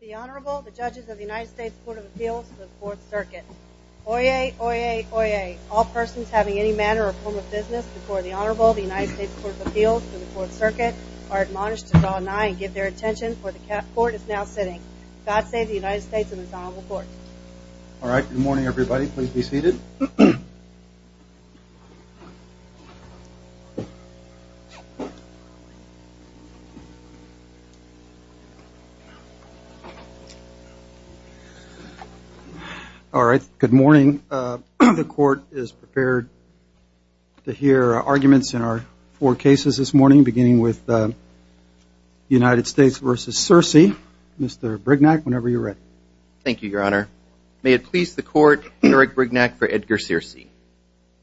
The Honorable, the Judges of the United States Court of Appeals to the Fourth Circuit. Oyez, oyez, oyez, all persons having any manner or form of business before the Honorable, the United States Court of Appeals to the Fourth Circuit are admonished to draw nigh and give their attention, for the Court is now sitting. God save the United States and His Honorable Court. All right, good morning everybody, please be seated. All right, good morning. The Court is prepared to hear arguments in our four cases this morning, beginning with the United States v. Searcy. Mr. Brignac, whenever you're ready. Thank you, Your Honor. May it please the Court, Eric Brignac for Edgar Searcy.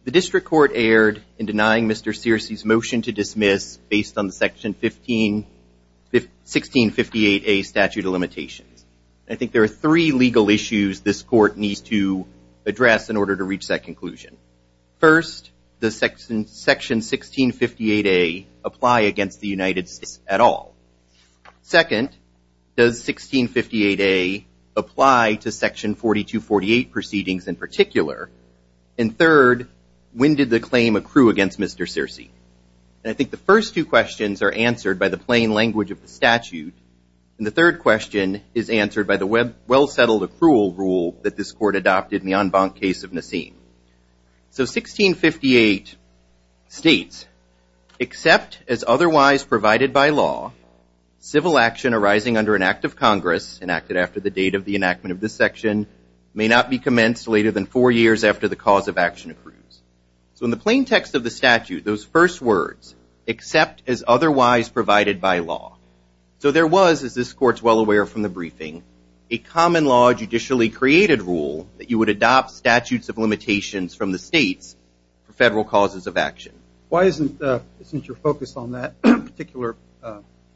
The District Court erred in denying Mr. Searcy's motion to dismiss, based on the Section 1658A statute of limitations. I think there are three legal issues this Court needs to address in order to reach that conclusion. First, does Section 1658A apply against the United States at all? Second, does 1658A apply to Section 4248 proceedings in particular? And third, when did the claim accrue against Mr. Searcy? And I think the first two questions are answered by the plain language of the statute, and the third question is answered by the well-settled accrual rule that this Court adopted in the en banc case of Nassim. So 1658 states, except as otherwise provided by law, civil action arising under an act of Congress, enacted after the date of the enactment of this section, may not be commenced later than four years after the cause of action accrues. So in the plain text of the statute, those first words, except as otherwise provided by law. a common law judicially created rule that you would adopt statutes of limitations from the states for federal causes of action. Why isn't your focus on that particular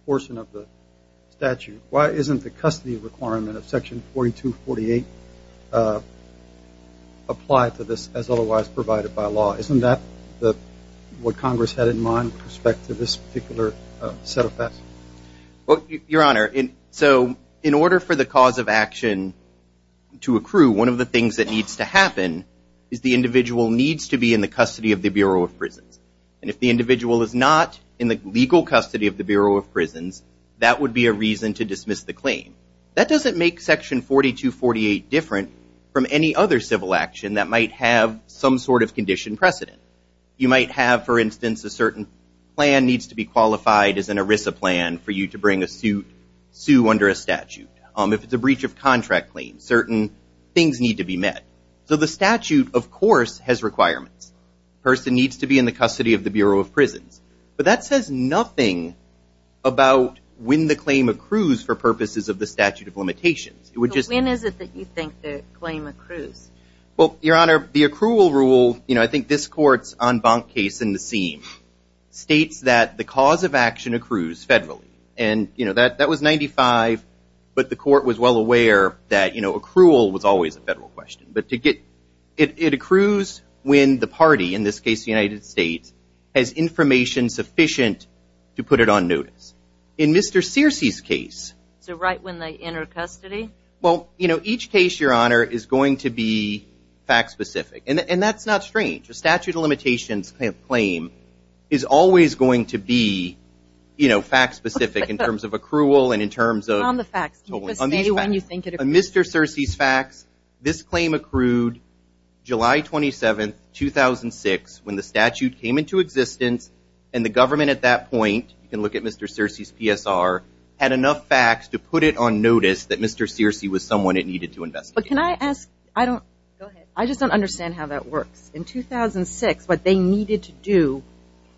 portion of the statute, why isn't the custody requirement of Section 4248 applied to this as otherwise provided by law? Isn't that what Congress had in mind with respect to this particular set of facts? Your Honor, so in order for the cause of action to accrue, one of the things that needs to happen is the individual needs to be in the custody of the Bureau of Prisons. And if the individual is not in the legal custody of the Bureau of Prisons, that would be a reason to dismiss the claim. That doesn't make Section 4248 different from any other civil action that might have some sort of condition precedent. You might have, for instance, a certain plan needs to be qualified as an ERISA plan for you to bring a suit, sue under a statute. If it's a breach of contract claim, certain things need to be met. So the statute, of course, has requirements. The person needs to be in the custody of the Bureau of Prisons. But that says nothing about when the claim accrues for purposes of the statute of limitations. When is it that you think the claim accrues? Well, Your Honor, the accrual rule, you know, I think this court's en banc case in the seam states that the cause of action accrues federally. And, you know, that was 95, but the court was well aware that, you know, accrual was always a federal question. But it accrues when the party, in this case the United States, has information sufficient to put it on notice. In Mr. Searcy's case. So right when they enter custody? Well, you know, each case, Your Honor, is going to be fact specific. And that's not strange. A statute of limitations claim is always going to be, you know, fact specific in terms of accrual and in terms of Mr. Searcy's facts. This claim accrued July 27, 2006, when the statute came into existence and the government at that point, you can look at Mr. Searcy's PSR, had enough facts to put it on notice that Mr. Searcy was someone it needed to investigate. But can I ask? Go ahead. I just don't understand how that works. In 2006, what they needed to do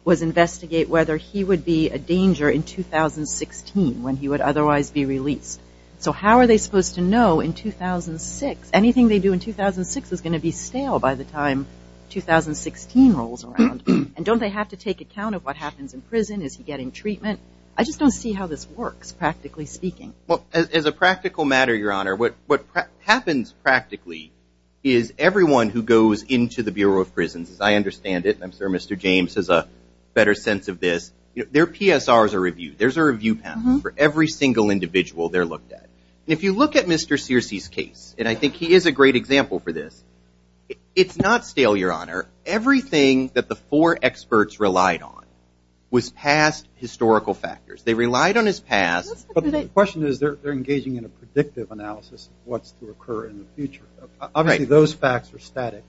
was investigate whether he would be a danger in 2016 when he would otherwise be released. So how are they supposed to know in 2006? Anything they do in 2006 is going to be stale by the time 2016 rolls around. And don't they have to take account of what happens in prison? Is he getting treatment? I just don't see how this works, practically speaking. Well, as a practical matter, Your Honor, what happens practically is everyone who goes into the Bureau of Prisons, as I understand it, and I'm sure Mr. James has a better sense of this, their PSRs are reviewed. There's a review panel for every single individual they're looked at. And if you look at Mr. Searcy's case, and I think he is a great example for this, it's not stale, Your Honor. Everything that the four experts relied on was past historical factors. They relied on his past. But the question is they're engaging in a predictive analysis of what's to occur in the future. Obviously those facts are static.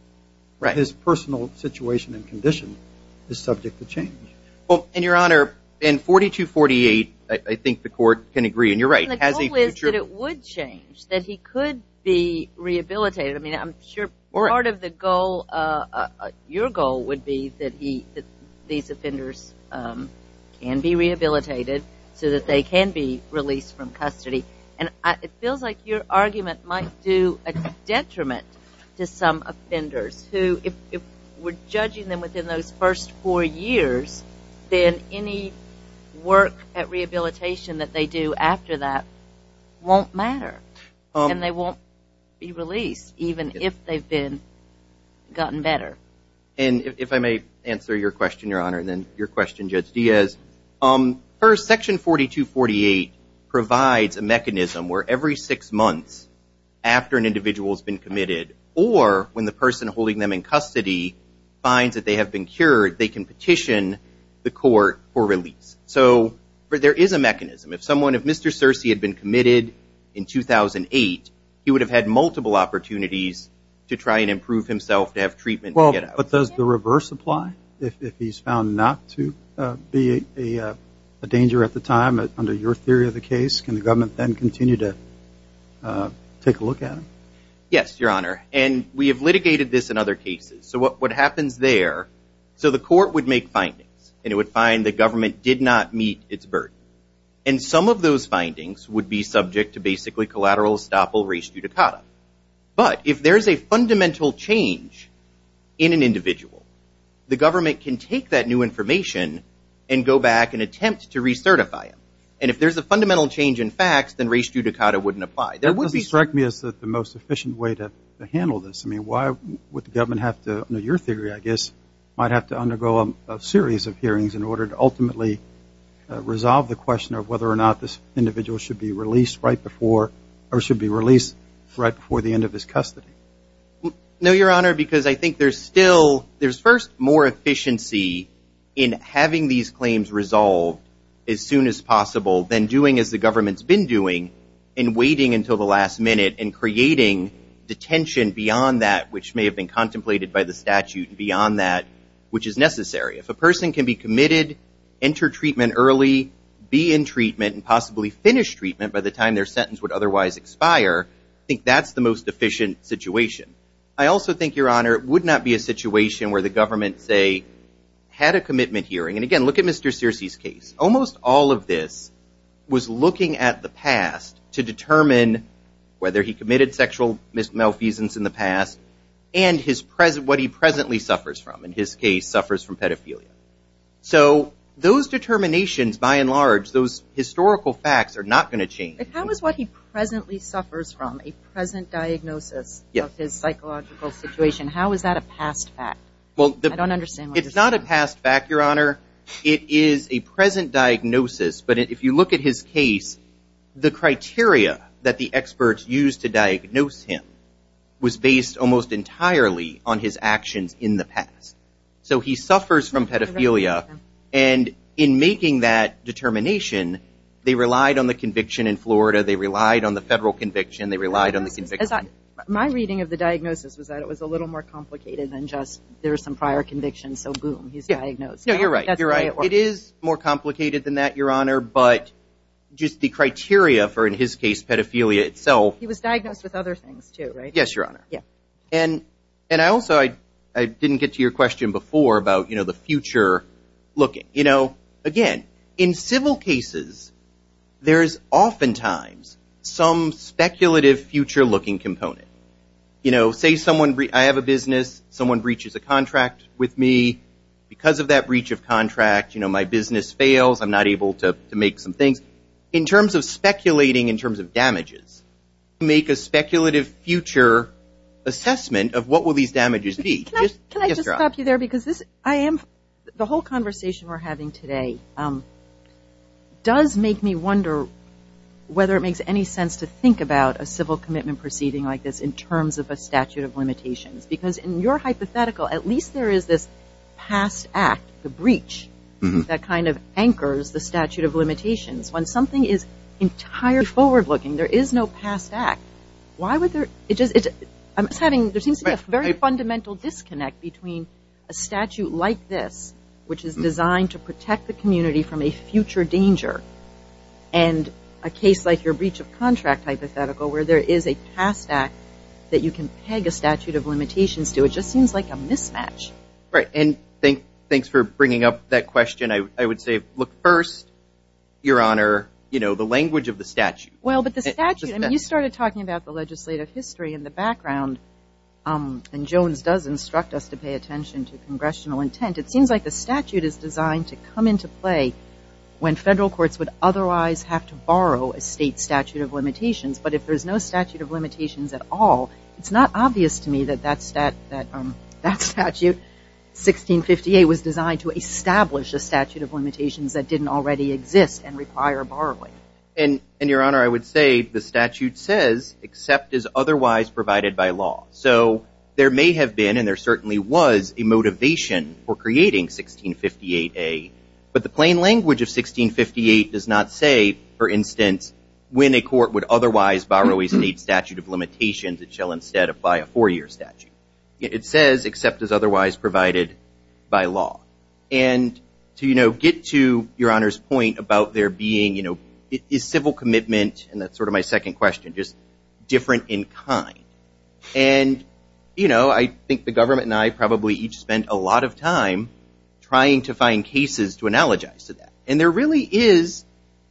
His personal situation and condition is subject to change. And, Your Honor, in 4248, I think the Court can agree, and you're right, has a future. And the goal is that it would change, that he could be rehabilitated. I mean, I'm sure part of the goal, your goal, would be that these offenders can be rehabilitated so that they can be released from custody. And it feels like your argument might do a detriment to some offenders who, if we're judging them within those first four years, then any work at rehabilitation that they do after that won't matter and they won't be released, even if they've gotten better. And if I may answer your question, Your Honor, and then your question, Judge Diaz. First, Section 4248 provides a mechanism where every six months after an individual has been committed or when the person holding them in custody finds that they have been cured, they can petition the Court for release. So there is a mechanism. If someone, if Mr. Searcy had been committed in 2008, he would have had multiple opportunities to try and improve himself, to have treatment. But does the reverse apply? If he's found not to be a danger at the time, under your theory of the case, can the government then continue to take a look at him? Yes, Your Honor. And we have litigated this in other cases. So what happens there, so the Court would make findings, and it would find the government did not meet its burden. And some of those findings would be subject to basically collateral estoppel res judicata. But if there's a fundamental change in an individual, the government can take that new information and go back and attempt to recertify it. And if there's a fundamental change in facts, then res judicata wouldn't apply. That doesn't strike me as the most efficient way to handle this. I mean, why would the government have to, under your theory, I guess, might have to undergo a series of hearings in order to ultimately resolve the question of whether or not this individual should be released right before, or should be released right before the end of his custody. No, Your Honor, because I think there's still, there's first more efficiency in having these claims resolved as soon as possible than doing as the government's been doing and waiting until the last minute and creating detention beyond that, which may have been contemplated by the statute, beyond that, which is necessary. If a person can be committed, enter treatment early, be in treatment and possibly finish treatment by the time their sentence would otherwise expire, I think that's the most efficient situation. I also think, Your Honor, it would not be a situation where the government, say, had a commitment hearing. And again, look at Mr. Searcy's case. Almost all of this was looking at the past to determine whether he committed sexual malfeasance in the past and what he presently suffers from. And his case suffers from pedophilia. So those determinations, by and large, those historical facts are not going to change. But how is what he presently suffers from, a present diagnosis of his psychological situation, how is that a past fact? I don't understand what you're saying. It's not a past fact, Your Honor. It is a present diagnosis. But if you look at his case, the criteria that the experts used to diagnose him was based almost entirely on his actions in the past. So he suffers from pedophilia. And in making that determination, they relied on the conviction in Florida. They relied on the federal conviction. They relied on the conviction. My reading of the diagnosis was that it was a little more complicated than just there are some prior convictions, so boom, he's diagnosed. No, you're right. You're right. It is more complicated than that, Your Honor. But just the criteria for, in his case, pedophilia itself. He was diagnosed with other things, too, right? Yes, Your Honor. Yes. And also, I didn't get to your question before about the future looking. Again, in civil cases, there is oftentimes some speculative future looking component. Say I have a business, someone breaches a contract with me. Because of that breach of contract, my business fails, I'm not able to make some things. In terms of speculating, in terms of damages, make a speculative future assessment of what will these damages be. Can I just stop you there? Because the whole conversation we're having today does make me wonder whether it makes any sense to think about a civil commitment proceeding like this in terms of a statute of limitations. Because in your hypothetical, at least there is this past act, the breach, that kind of anchors the statute of limitations. When something is entirely forward looking, there is no past act. Why would there, it just, I'm just having, there seems to be a very fundamental disconnect between a statute like this, which is designed to protect the community from a future danger, and a case like your breach of contract hypothetical, where there is a past act that you can peg a statute of limitations to. It just seems like a mismatch. Right. And thanks for bringing up that question. I would say, look, first, Your Honor, the language of the statute. Well, but the statute, you started talking about the legislative history in the background, and Jones does instruct us to pay attention to congressional intent. It seems like the statute is designed to come into play when federal courts would otherwise have to borrow a state statute of limitations. But if there's no statute of limitations at all, it's not obvious to me that that statute, 1658, was designed to establish a statute of limitations that didn't already exist and require borrowing. And, Your Honor, I would say the statute says, except as otherwise provided by law. So there may have been, and there certainly was, a motivation for creating 1658A, but the plain language of 1658 does not say, for instance, when a court would otherwise borrow a state statute of limitations, it shall instead apply a four-year statute. It says, except as otherwise provided by law. And to get to Your Honor's point about there being, is civil commitment, and that's sort of my second question, just different in kind? And I think the government and I probably each spent a lot of time trying to find cases to analogize to that. And there really is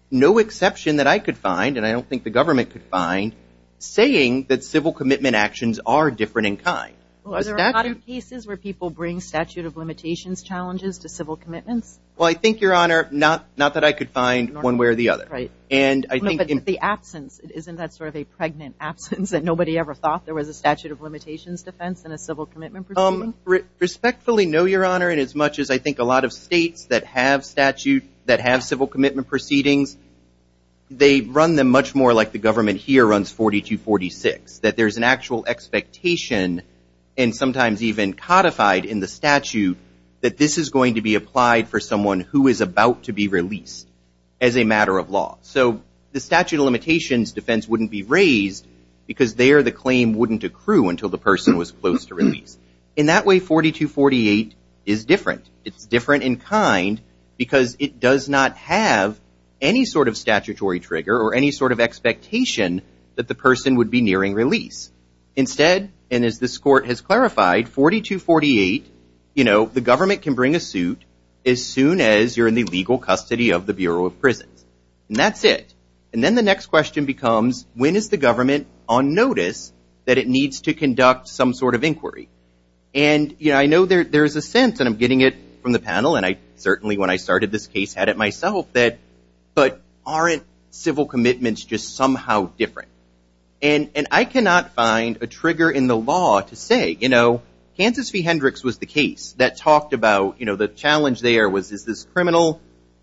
no exception that I could find, and I don't think the government could find, saying that civil commitment actions are different in kind. Well, are there a lot of cases where people bring statute of limitations challenges to civil commitments? Well, I think, Your Honor, not that I could find one way or the other. Right. And I think in the absence, isn't that sort of a pregnant absence that nobody ever thought there was a statute of limitations defense in a civil commitment proceeding? Respectfully, no, Your Honor, and as much as I think a lot of states that have statute, that have civil commitment proceedings, they run them much more like the government here runs 4246, that there's an actual expectation, and sometimes even codified in the statute, that this is going to be applied for someone who is about to be released as a matter of law. So the statute of limitations defense wouldn't be raised because there the claim wouldn't accrue until the person was close to release. In that way, 4248 is different. It's different in kind because it does not have any sort of statutory trigger or any sort of expectation that the person would be nearing release. Instead, and as this court has clarified, 4248, you know, the government can bring a suit as soon as you're in the legal custody of the Bureau of Prisons. And that's it. And then the next question becomes, And, you know, I know there's a sense, and I'm getting it from the panel, and I certainly, when I started this case, had it myself, that but aren't civil commitments just somehow different? And I cannot find a trigger in the law to say, you know, Kansas v. Hendricks was the case that talked about, you know, the challenge there was is this criminal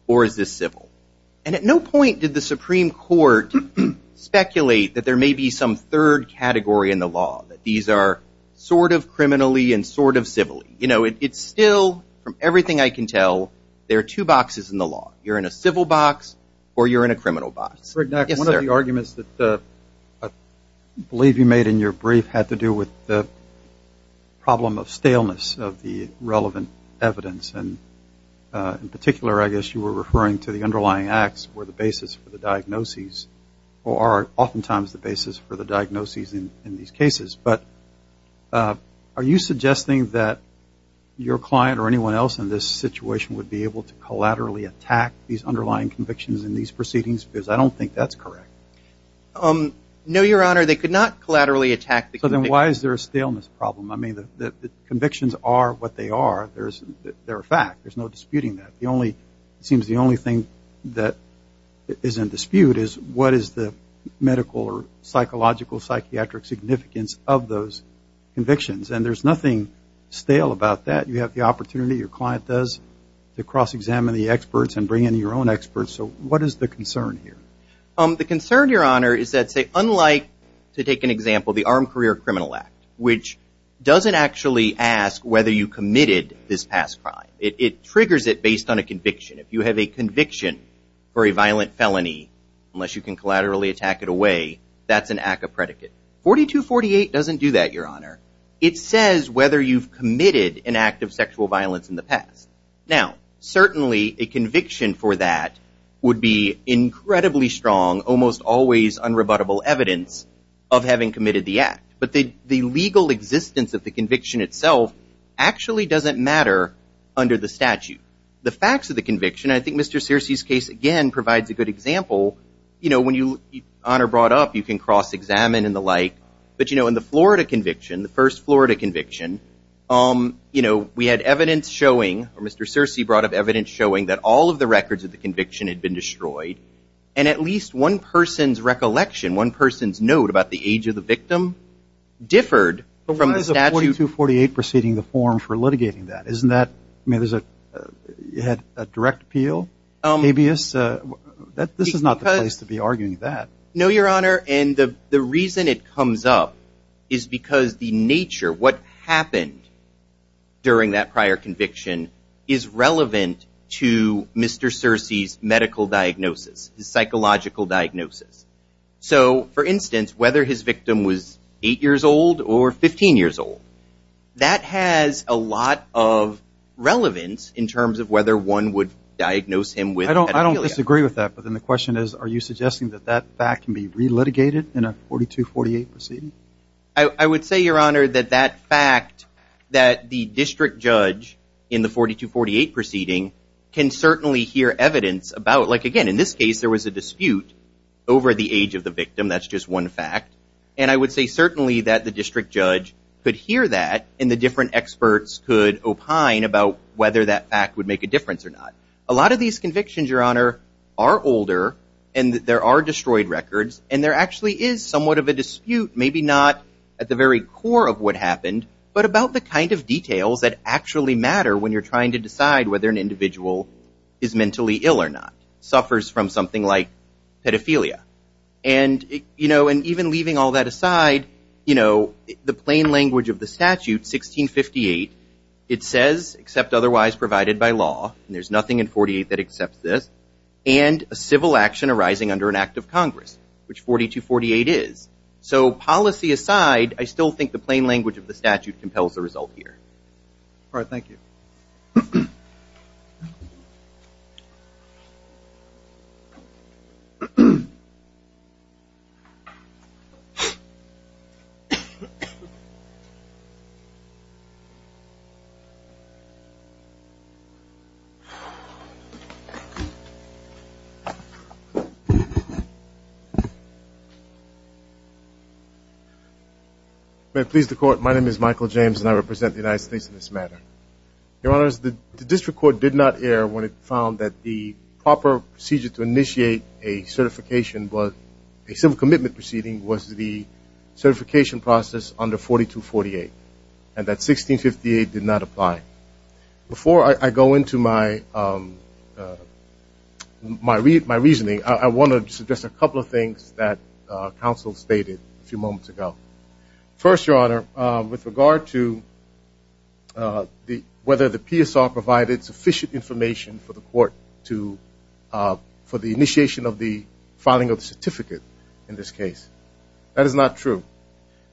or is this civil? And at no point did the Supreme Court speculate that there may be some third category in the law, that these are sort of criminally and sort of civilly. You know, it's still, from everything I can tell, there are two boxes in the law. You're in a civil box or you're in a criminal box. Yes, sir. One of the arguments that I believe you made in your brief had to do with the problem of staleness of the relevant evidence. And in particular, I guess, you were referring to the underlying acts were the basis for the diagnoses or are oftentimes the basis for the diagnoses in these cases. But are you suggesting that your client or anyone else in this situation would be able to collaterally attack these underlying convictions in these proceedings? Because I don't think that's correct. No, Your Honor, they could not collaterally attack the convictions. So then why is there a staleness problem? I mean, the convictions are what they are. They're a fact. There's no disputing that. It seems the only thing that is in dispute is what is the medical or psychological, psychiatric significance of those convictions. And there's nothing stale about that. You have the opportunity, your client does, to cross-examine the experts and bring in your own experts. So what is the concern here? The concern, Your Honor, is that, say, unlike, to take an example, the Armed Career Criminal Act, which doesn't actually ask whether you committed this past crime. It triggers it based on a conviction. If you have a conviction for a violent felony, unless you can collaterally attack it away, that's an act of predicate. 4248 doesn't do that, Your Honor. It says whether you've committed an act of sexual violence in the past. Now, certainly a conviction for that would be incredibly strong, almost always unrebuttable evidence of having committed the act. But the legal existence of the conviction itself actually doesn't matter under the statute. The facts of the conviction, I think Mr. Searcy's case again provides a good example. You know, when you, Your Honor, brought up, you can cross-examine and the like. But, you know, in the Florida conviction, the first Florida conviction, you know, we had evidence showing, or Mr. Searcy brought up evidence showing, that all of the records of the conviction had been destroyed, one person's note about the age of the victim, differed from the statute. But why is a 4248 preceding the form for litigating that? Isn't that, I mean, there's a, you had a direct appeal? Habeas? This is not the place to be arguing that. No, Your Honor. And the reason it comes up is because the nature, what happened during that prior conviction, is relevant to Mr. Searcy's medical diagnosis, his psychological diagnosis. So, for instance, whether his victim was 8 years old or 15 years old, that has a lot of relevance in terms of whether one would diagnose him with pedophilia. I don't disagree with that. But then the question is, are you suggesting that that fact can be re-litigated in a 4248 proceeding? I would say, Your Honor, that that fact that the district judge in the 4248 proceeding can certainly hear evidence about, like, again, in this case there was a dispute over the age of the victim. That's just one fact. And I would say certainly that the district judge could hear that and the different experts could opine about whether that fact would make a difference or not. A lot of these convictions, Your Honor, are older and there are destroyed records, and there actually is somewhat of a dispute, maybe not at the very core of what happened, but about the kind of details that actually matter when you're trying to decide whether an individual is mentally ill or not, suffers from something like pedophilia. And, you know, and even leaving all that aside, you know, the plain language of the statute, 1658, it says, except otherwise provided by law, and there's nothing in 48 that accepts this, and a civil action arising under an act of Congress, which 4248 is. So policy aside, I still think the plain language of the statute compels the result here. All right. Thank you. My name is Michael James, and I represent the United States in this matter. Your Honors, the district court did not err when it found that the proper procedure to initiate a certification, but a civil commitment proceeding was the certification process under 4248, and that 1658 did not apply. Before I go into my reasoning, I want to suggest a couple of things that counsel stated a few moments ago. First, Your Honor, with regard to whether the PSR provided sufficient information for the court to, for the initiation of the filing of the certificate in this case. That is not true.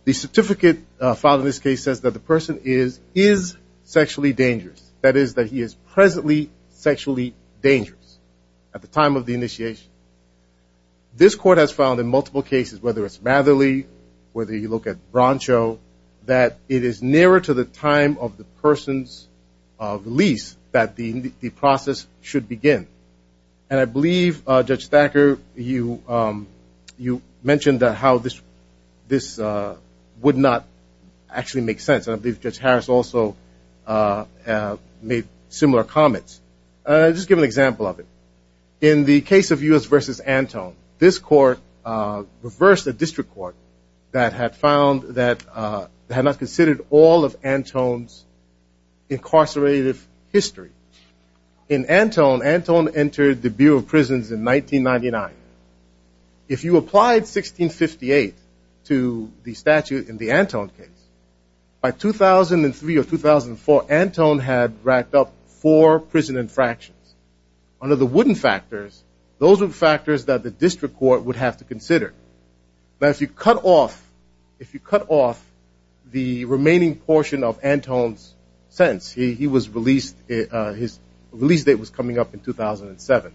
The certificate filed in this case says that the person is sexually dangerous. That is that he is presently sexually dangerous at the time of the initiation. This court has filed in multiple cases, whether it's Matherly, whether you look at Broncho, that it is nearer to the time of the person's release that the process should begin. And I believe, Judge Thacker, you mentioned how this would not actually make sense. I believe Judge Harris also made similar comments. I'll just give an example of it. In the case of U.S. v. Antone, this court reversed a district court that had found that, had not considered all of Antone's incarcerative history. In Antone, Antone entered the Bureau of Prisons in 1999. If you applied 1658 to the statute in the Antone case, by 2003 or 2004, Antone had racked up four prison infractions. Under the wooden factors, those were factors that the district court would have to consider. Now, if you cut off the remaining portion of Antone's sentence, he was released, his release date was coming up in 2007,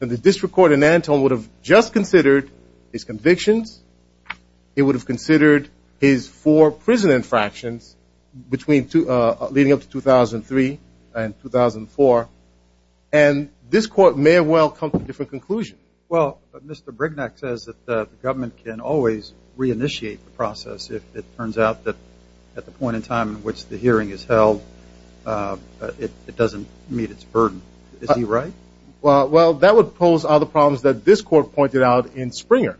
then the district court in Antone would have just considered his convictions. It would have considered his four prison infractions between leading up to 2003 and 2004. And this court may well come to a different conclusion. Well, Mr. Brignac says that the government can always reinitiate the process if it turns out that at the point in time in which the hearing is held, it doesn't meet its burden. Is he right? Well, that would pose other problems that this court pointed out in Springer,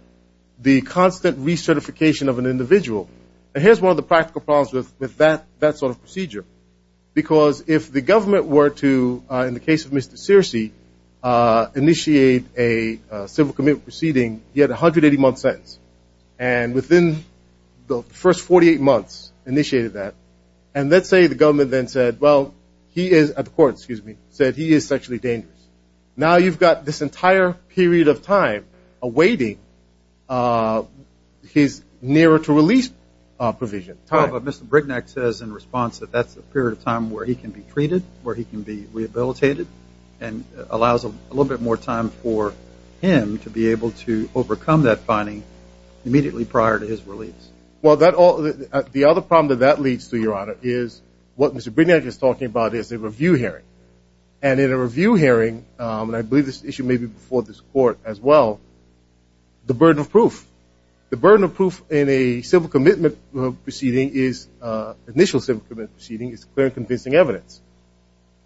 the constant recertification of an individual. And here's one of the practical problems with that sort of procedure, because if the government were to, in the case of Mr. Searcy, initiate a civil commitment proceeding, he had a 180-month sentence. And within the first 48 months, initiated that. And let's say the government then said, well, he is, at the court, excuse me, said he is sexually dangerous. Now you've got this entire period of time awaiting his nearer to release provision. But Mr. Brignac says in response that that's a period of time where he can be treated, where he can be rehabilitated, and allows a little bit more time for him to be able to overcome that finding immediately prior to his release. Well, the other problem that that leads to, Your Honor, is what Mr. Brignac is talking about is a review hearing. And in a review hearing, and I believe this issue may be before this court as well, the burden of proof. The burden of proof in a civil commitment proceeding is, initial civil commitment proceeding is clear and convincing evidence.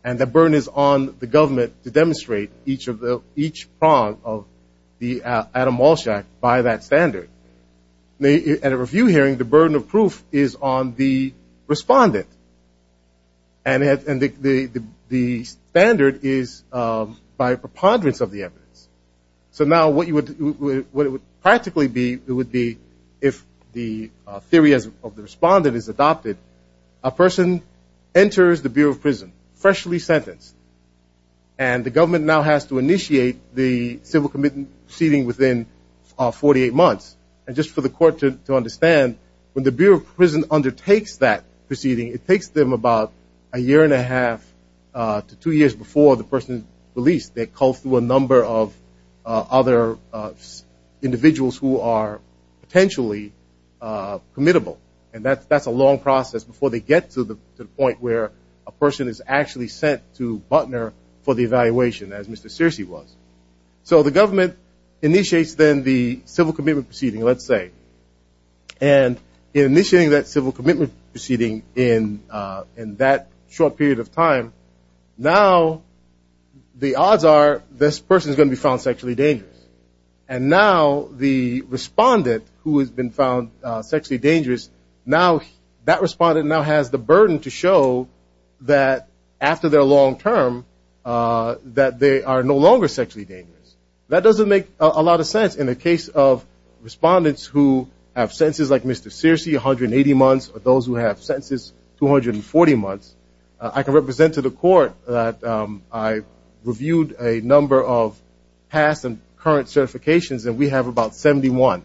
And the burden is on the government to demonstrate each of the, each prong of the Adam Walsh Act by that standard. At a review hearing, the burden of proof is on the respondent. And the standard is by preponderance of the evidence. So now what you would, what it would practically be, it would be if the theory of the respondent is adopted, a person enters the Bureau of Prison freshly sentenced, and the government now has to initiate the civil commitment proceeding within 48 months. And just for the court to understand, when the Bureau of Prison undertakes that proceeding, it takes them about a year and a half to two years before the person is released. They call through a number of other individuals who are potentially committable. And that's a long process before they get to the point where a person is actually sent to Butner for the evaluation, as Mr. Searcy was. So the government initiates then the civil commitment proceeding, let's say. And in initiating that civil commitment proceeding in that short period of time, now the odds are this person is going to be found sexually dangerous. And now the respondent who has been found sexually dangerous, now that respondent now has the burden to show that after their long term that they are no longer sexually dangerous. That doesn't make a lot of sense in the case of respondents who have sentences like Mr. Searcy, 180 months, or those who have sentences 240 months. I can represent to the court that I reviewed a number of past and current certifications, and we have about 71.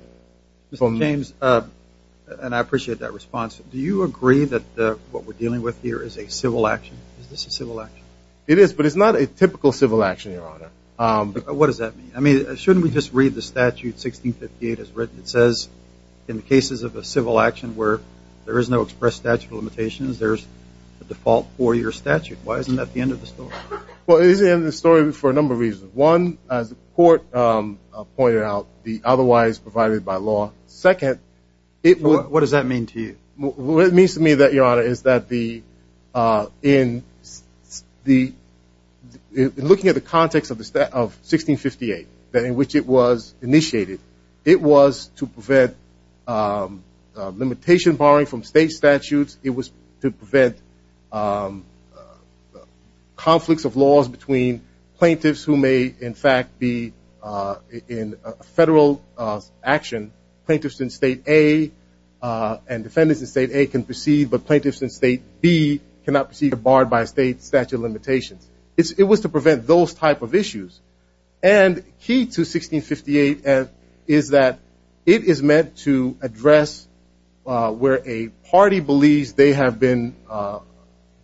Mr. James, and I appreciate that response, do you agree that what we're dealing with here is a civil action? Is this a civil action? It is, but it's not a typical civil action, Your Honor. What does that mean? I mean, shouldn't we just read the statute 1658 as written? It says in the cases of a civil action where there is no express statute of limitations, there's a default four-year statute. Why isn't that the end of the story? Well, it is the end of the story for a number of reasons. One, as the court pointed out, the otherwise provided by law. Second, it would- What does that mean to you? What it means to me that, Your Honor, is that in looking at the context of 1658, in which it was initiated, it was to prevent limitation barring from state statutes. It was to prevent conflicts of laws between plaintiffs who may, in fact, be in federal action. Plaintiffs in State A and defendants in State A can proceed, but plaintiffs in State B cannot proceed if barred by a state statute of limitations. It was to prevent those type of issues. And key to 1658 is that it is meant to address where a party believes they have been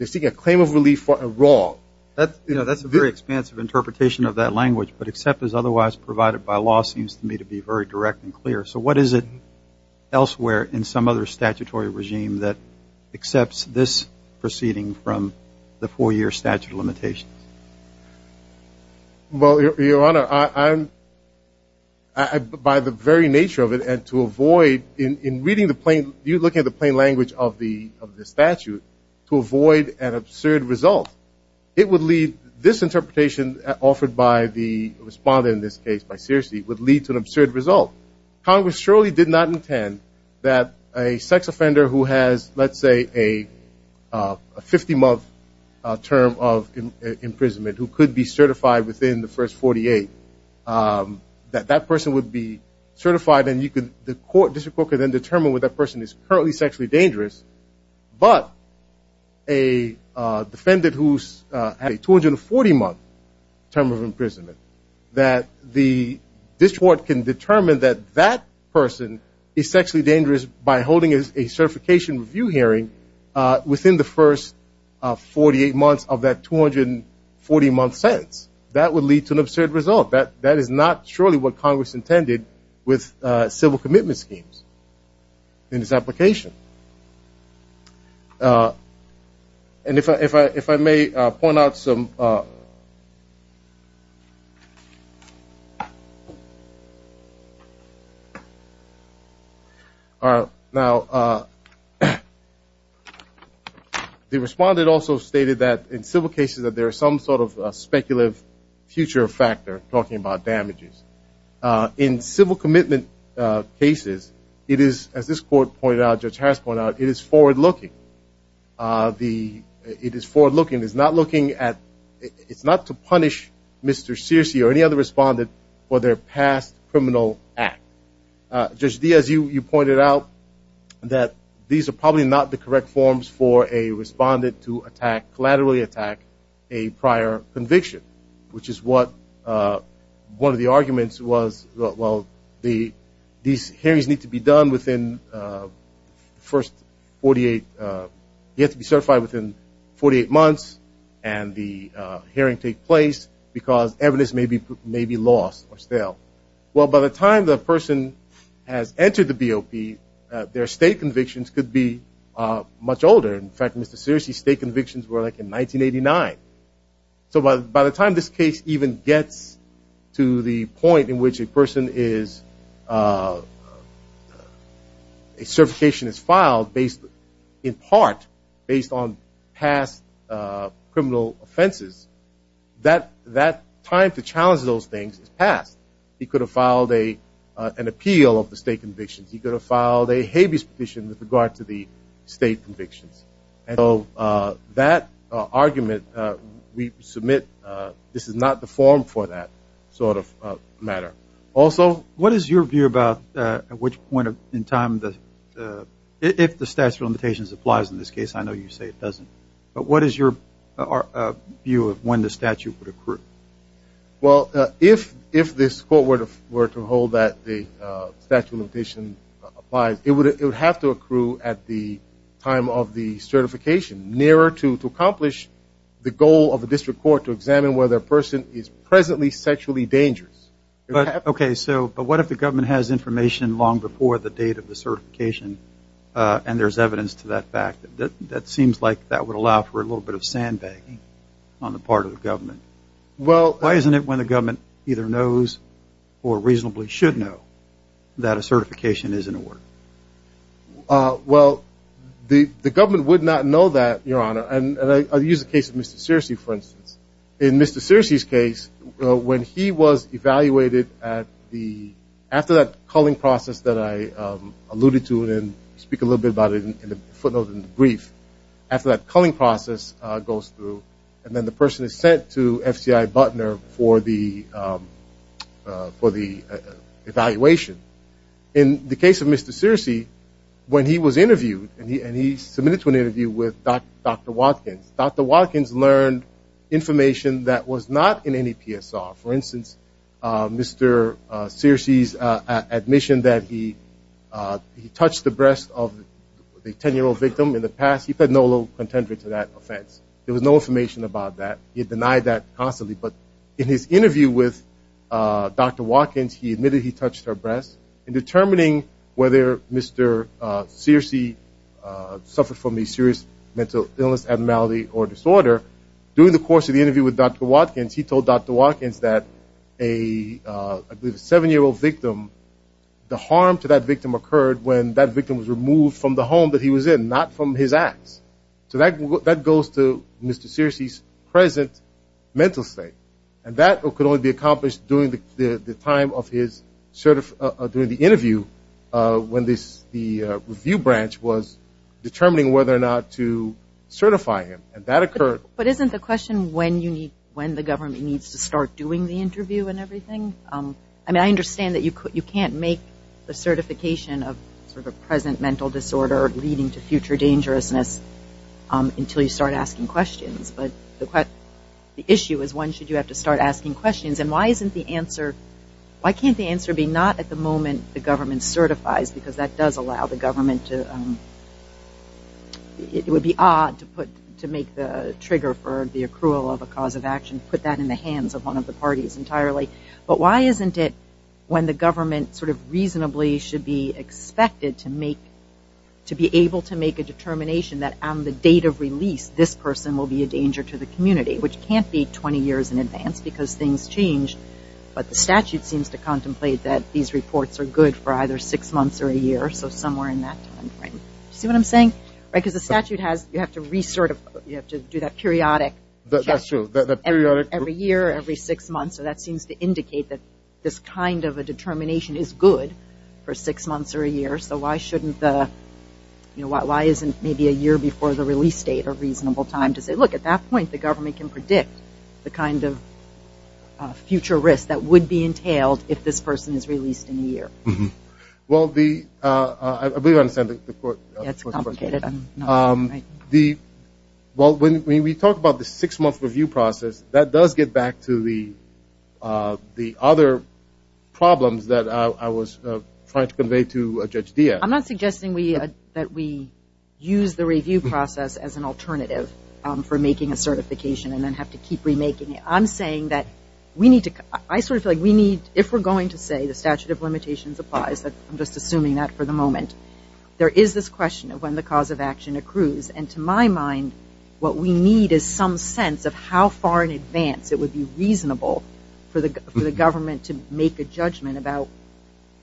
seeking a claim of relief for a wrong. That's a very expansive interpretation of that language, but except as otherwise provided by law seems to me to be very direct and clear. So what is it elsewhere in some other statutory regime that accepts this proceeding from the four-year statute of limitations? Well, Your Honor, I'm- By the very nature of it and to avoid- In reading the plain- You're looking at the plain language of the statute to avoid an absurd result. It would lead- This interpretation offered by the responder in this case, by Searcy, would lead to an absurd result. Congress surely did not intend that a sex offender who has, let's say, a 50-month term of imprisonment, who could be certified within the first 48, that that person would be certified, and the court could then determine whether that person is currently sexually dangerous. But a defendant who has a 240-month term of imprisonment, that this court can determine that that person is sexually dangerous by holding a certification review hearing within the first 48 months of that 240-month sentence. That would lead to an absurd result. That is not surely what Congress intended with civil commitment schemes in this application. And if I may point out some- Now, the responder also stated that in civil cases that there is some sort of speculative future factor. We're talking about damages. In civil commitment cases, it is, as this court pointed out, Judge Harris pointed out, it is forward-looking. It is forward-looking. It's not looking at- It's not to punish Mr. Searcy or any other respondent for their past criminal act. Judge Diaz, you pointed out that these are probably not the correct forms for a respondent to attack, a prior conviction, which is what one of the arguments was, well, these hearings need to be done within the first 48- You have to be certified within 48 months and the hearing take place because evidence may be lost or stale. Well, by the time the person has entered the BOP, their state convictions could be much older. In fact, Mr. Searcy's state convictions were like in 1989. So by the time this case even gets to the point in which a person is- a certification is filed in part based on past criminal offenses, that time to challenge those things is past. He could have filed an appeal of the state convictions. He could have filed a habeas petition with regard to the state convictions. And so that argument, we submit this is not the form for that sort of matter. Also- What is your view about at which point in time, if the statute of limitations applies in this case? I know you say it doesn't. Well, if this court were to hold that the statute of limitations applies, it would have to accrue at the time of the certification, nearer to accomplish the goal of the district court to examine whether a person is presently sexually dangerous. Okay, so what if the government has information long before the date of the certification and there's evidence to that fact? That seems like that would allow for a little bit of sandbagging on the part of the government. Well- Why isn't it when the government either knows or reasonably should know that a certification is in order? Well, the government would not know that, Your Honor. And I use the case of Mr. Searcy, for instance. In Mr. Searcy's case, when he was evaluated at the- and speak a little bit about it in the footnote in the brief, after that culling process goes through, and then the person is sent to FCI Butner for the evaluation. In the case of Mr. Searcy, when he was interviewed, and he submitted to an interview with Dr. Watkins, Dr. Watkins learned information that was not in any PSR. For instance, Mr. Searcy's admission that he touched the breast of a 10-year-old victim in the past, he had no contender to that offense. There was no information about that. He denied that constantly. But in his interview with Dr. Watkins, he admitted he touched her breast. In determining whether Mr. Searcy suffered from a serious mental illness, abnormality, or disorder, during the course of the interview with Dr. Watkins, he told Dr. Watkins that a 7-year-old victim, the harm to that victim occurred when that victim was removed from the home that he was in, not from his ass. So that goes to Mr. Searcy's present mental state. And that could only be accomplished during the time of his interview, when the review branch was determining whether or not to certify him. But isn't the question when the government needs to start doing the interview and everything? I mean, I understand that you can't make a certification of sort of a present mental disorder leading to future dangerousness until you start asking questions. But the issue is when should you have to start asking questions, and why can't the answer be not at the moment the government certifies, because that does allow the government to, it would be odd to put, to make the trigger for the accrual of a cause of action, put that in the hands of one of the parties entirely. But why isn't it when the government sort of reasonably should be expected to make, to be able to make a determination that on the date of release, this person will be a danger to the community, which can't be 20 years in advance, because things change. But the statute seems to contemplate that these reports are good for either six months or a year, so somewhere in that time frame. See what I'm saying? Because the statute has, you have to do that periodic check. That's true. Every year, every six months, so that seems to indicate that this kind of a determination is good for six months or a year. So why isn't maybe a year before the release date a reasonable time to say, well, look, at that point the government can predict the kind of future risk that would be entailed if this person is released in a year. Well, I believe I understand the question. It's complicated. Well, when we talk about the six-month review process, that does get back to the other problems that I was trying to convey to Judge Diaz. I'm not suggesting that we use the review process as an alternative for making a certification and then have to keep remaking it. I'm saying that we need to, I sort of feel like we need, if we're going to say the statute of limitations applies, I'm just assuming that for the moment, there is this question of when the cause of action accrues. And to my mind, what we need is some sense of how far in advance it would be reasonable for the government to make a judgment about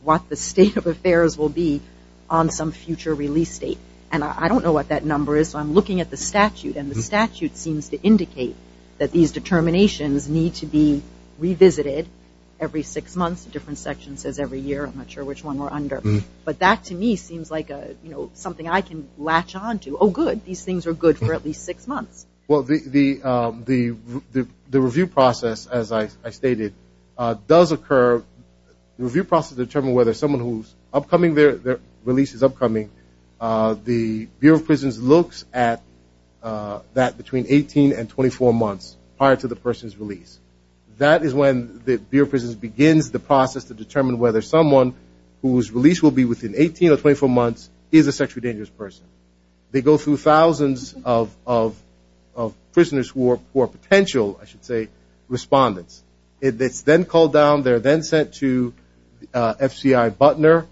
what the state of affairs will be on some future release date. And I don't know what that number is, so I'm looking at the statute, and the statute seems to indicate that these determinations need to be revisited every six months. A different section says every year. I'm not sure which one we're under. But that, to me, seems like something I can latch on to. Oh, good, these things are good for at least six months. Well, the review process, as I stated, does occur. The review process determines whether someone whose upcoming release is upcoming, the Bureau of Prisons looks at that between 18 and 24 months prior to the person's release. That is when the Bureau of Prisons begins the process to determine whether someone whose release will be within 18 or 24 months is a sexually dangerous person. They go through thousands of prisoners who are potential, I should say, respondents. It's then called down. They're then sent to FCI Butner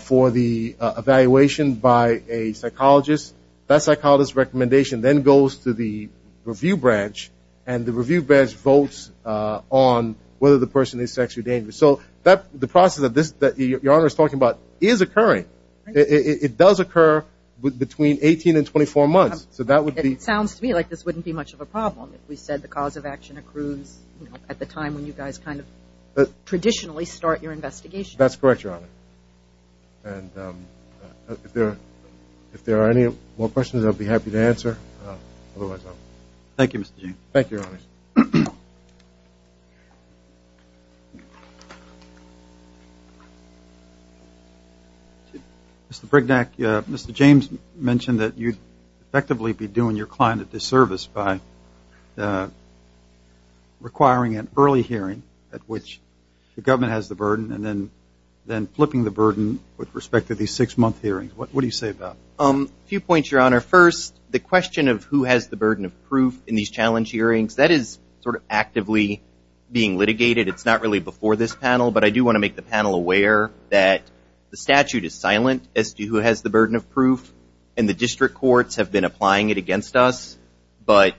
for the evaluation by a psychologist. That psychologist's recommendation then goes to the review branch, and the review branch votes on whether the person is sexually dangerous. So the process that Your Honor is talking about is occurring. It does occur between 18 and 24 months, so that would be. It sounds to me like this wouldn't be much of a problem if we said the cause of action accrues at the time when you guys kind of traditionally start your investigation. That's correct, Your Honor. And if there are any more questions, I'll be happy to answer. Thank you, Your Honor. Thank you. Mr. Brignac, Mr. James mentioned that you'd effectively be doing your client a disservice by requiring an early hearing at which the government has the burden and then flipping the burden with respect to these six-month hearings. What do you say about that? A few points, Your Honor. First, the question of who has the burden of proof in these challenge hearings, that is sort of actively being litigated. It's not really before this panel, but I do want to make the panel aware that the statute is silent as to who has the burden of proof, and the district courts have been applying it against us, but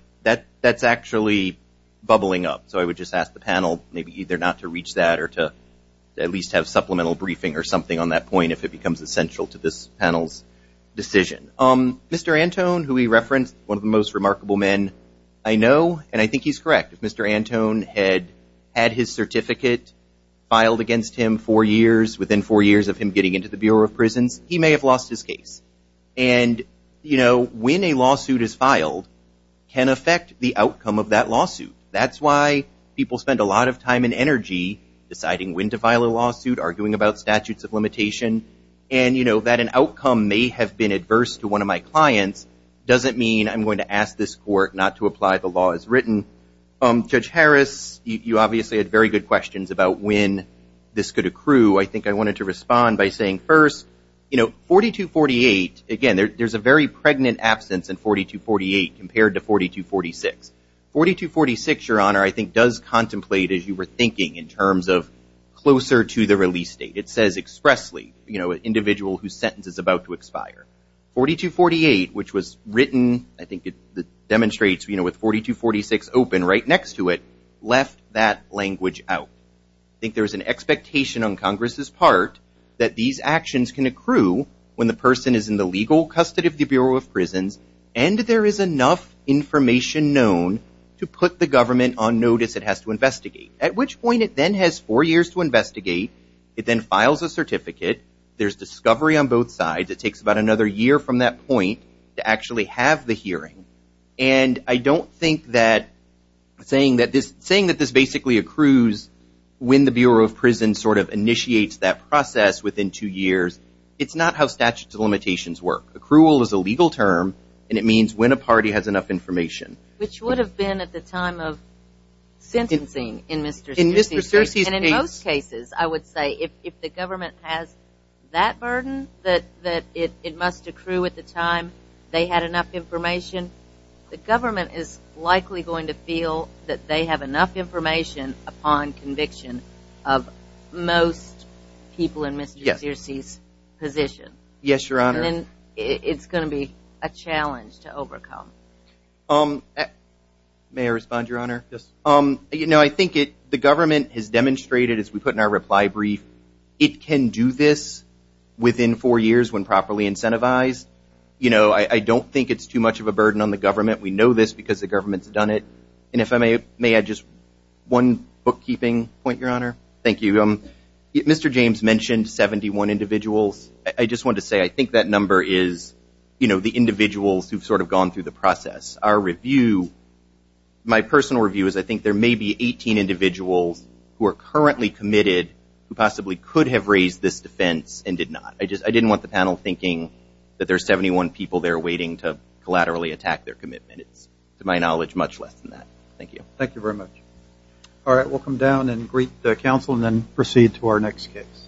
that's actually bubbling up. So I would just ask the panel maybe either not to reach that or to at least have supplemental briefing or something on that point if it becomes essential to this panel's decision. Mr. Antone, who we referenced, one of the most remarkable men I know, and I think he's correct, if Mr. Antone had had his certificate filed against him four years, within four years of him getting into the Bureau of Prisons, he may have lost his case. And, you know, when a lawsuit is filed can affect the outcome of that lawsuit. That's why people spend a lot of time and energy deciding when to file a lawsuit, arguing about statutes of limitation, and, you know, that an outcome may have been adverse to one of my clients doesn't mean I'm going to ask this court not to apply the law as written. Judge Harris, you obviously had very good questions about when this could accrue. I think I wanted to respond by saying first, you know, 4248, again, there's a very pregnant absence in 4248 compared to 4246. 4246, Your Honor, I think does contemplate, as you were thinking, in terms of closer to the release date. It says expressly, you know, an individual whose sentence is about to expire. 4248, which was written, I think it demonstrates, you know, with 4246 open right next to it, left that language out. I think there's an expectation on Congress's part that these actions can accrue when the person is in the legal custody of the Bureau of Prisons and there is enough information known to put the government on notice it has to investigate, at which point it then has four years to investigate. It then files a certificate. There's discovery on both sides. It takes about another year from that point to actually have the hearing. And I don't think that saying that this basically accrues when the Bureau of Prisons sort of initiates that process within two years, it's not how statute of limitations work. Accrual is a legal term, and it means when a party has enough information. Which would have been at the time of sentencing in Mr. Searcy's case. And in most cases, I would say if the government has that burden that it must accrue at the time they had enough information, the government is likely going to feel that they have enough information upon conviction of most people in Mr. Searcy's position. Yes, Your Honor. And then it's going to be a challenge to overcome. May I respond, Your Honor? I think the government has demonstrated, as we put in our reply brief, it can do this within four years when properly incentivized. I don't think it's too much of a burden on the government. We know this because the government's done it. And if I may add just one bookkeeping point, Your Honor. Thank you. Mr. James mentioned 71 individuals. I just wanted to say I think that number is, you know, the individuals who have sort of gone through the process. Our review, my personal review is I think there may be 18 individuals who are currently committed who possibly could have raised this defense and did not. I didn't want the panel thinking that there are 71 people there waiting to collaterally attack their commitment. It's, to my knowledge, much less than that. Thank you. Thank you very much. All right. We'll come down and greet the counsel and then proceed to our next case.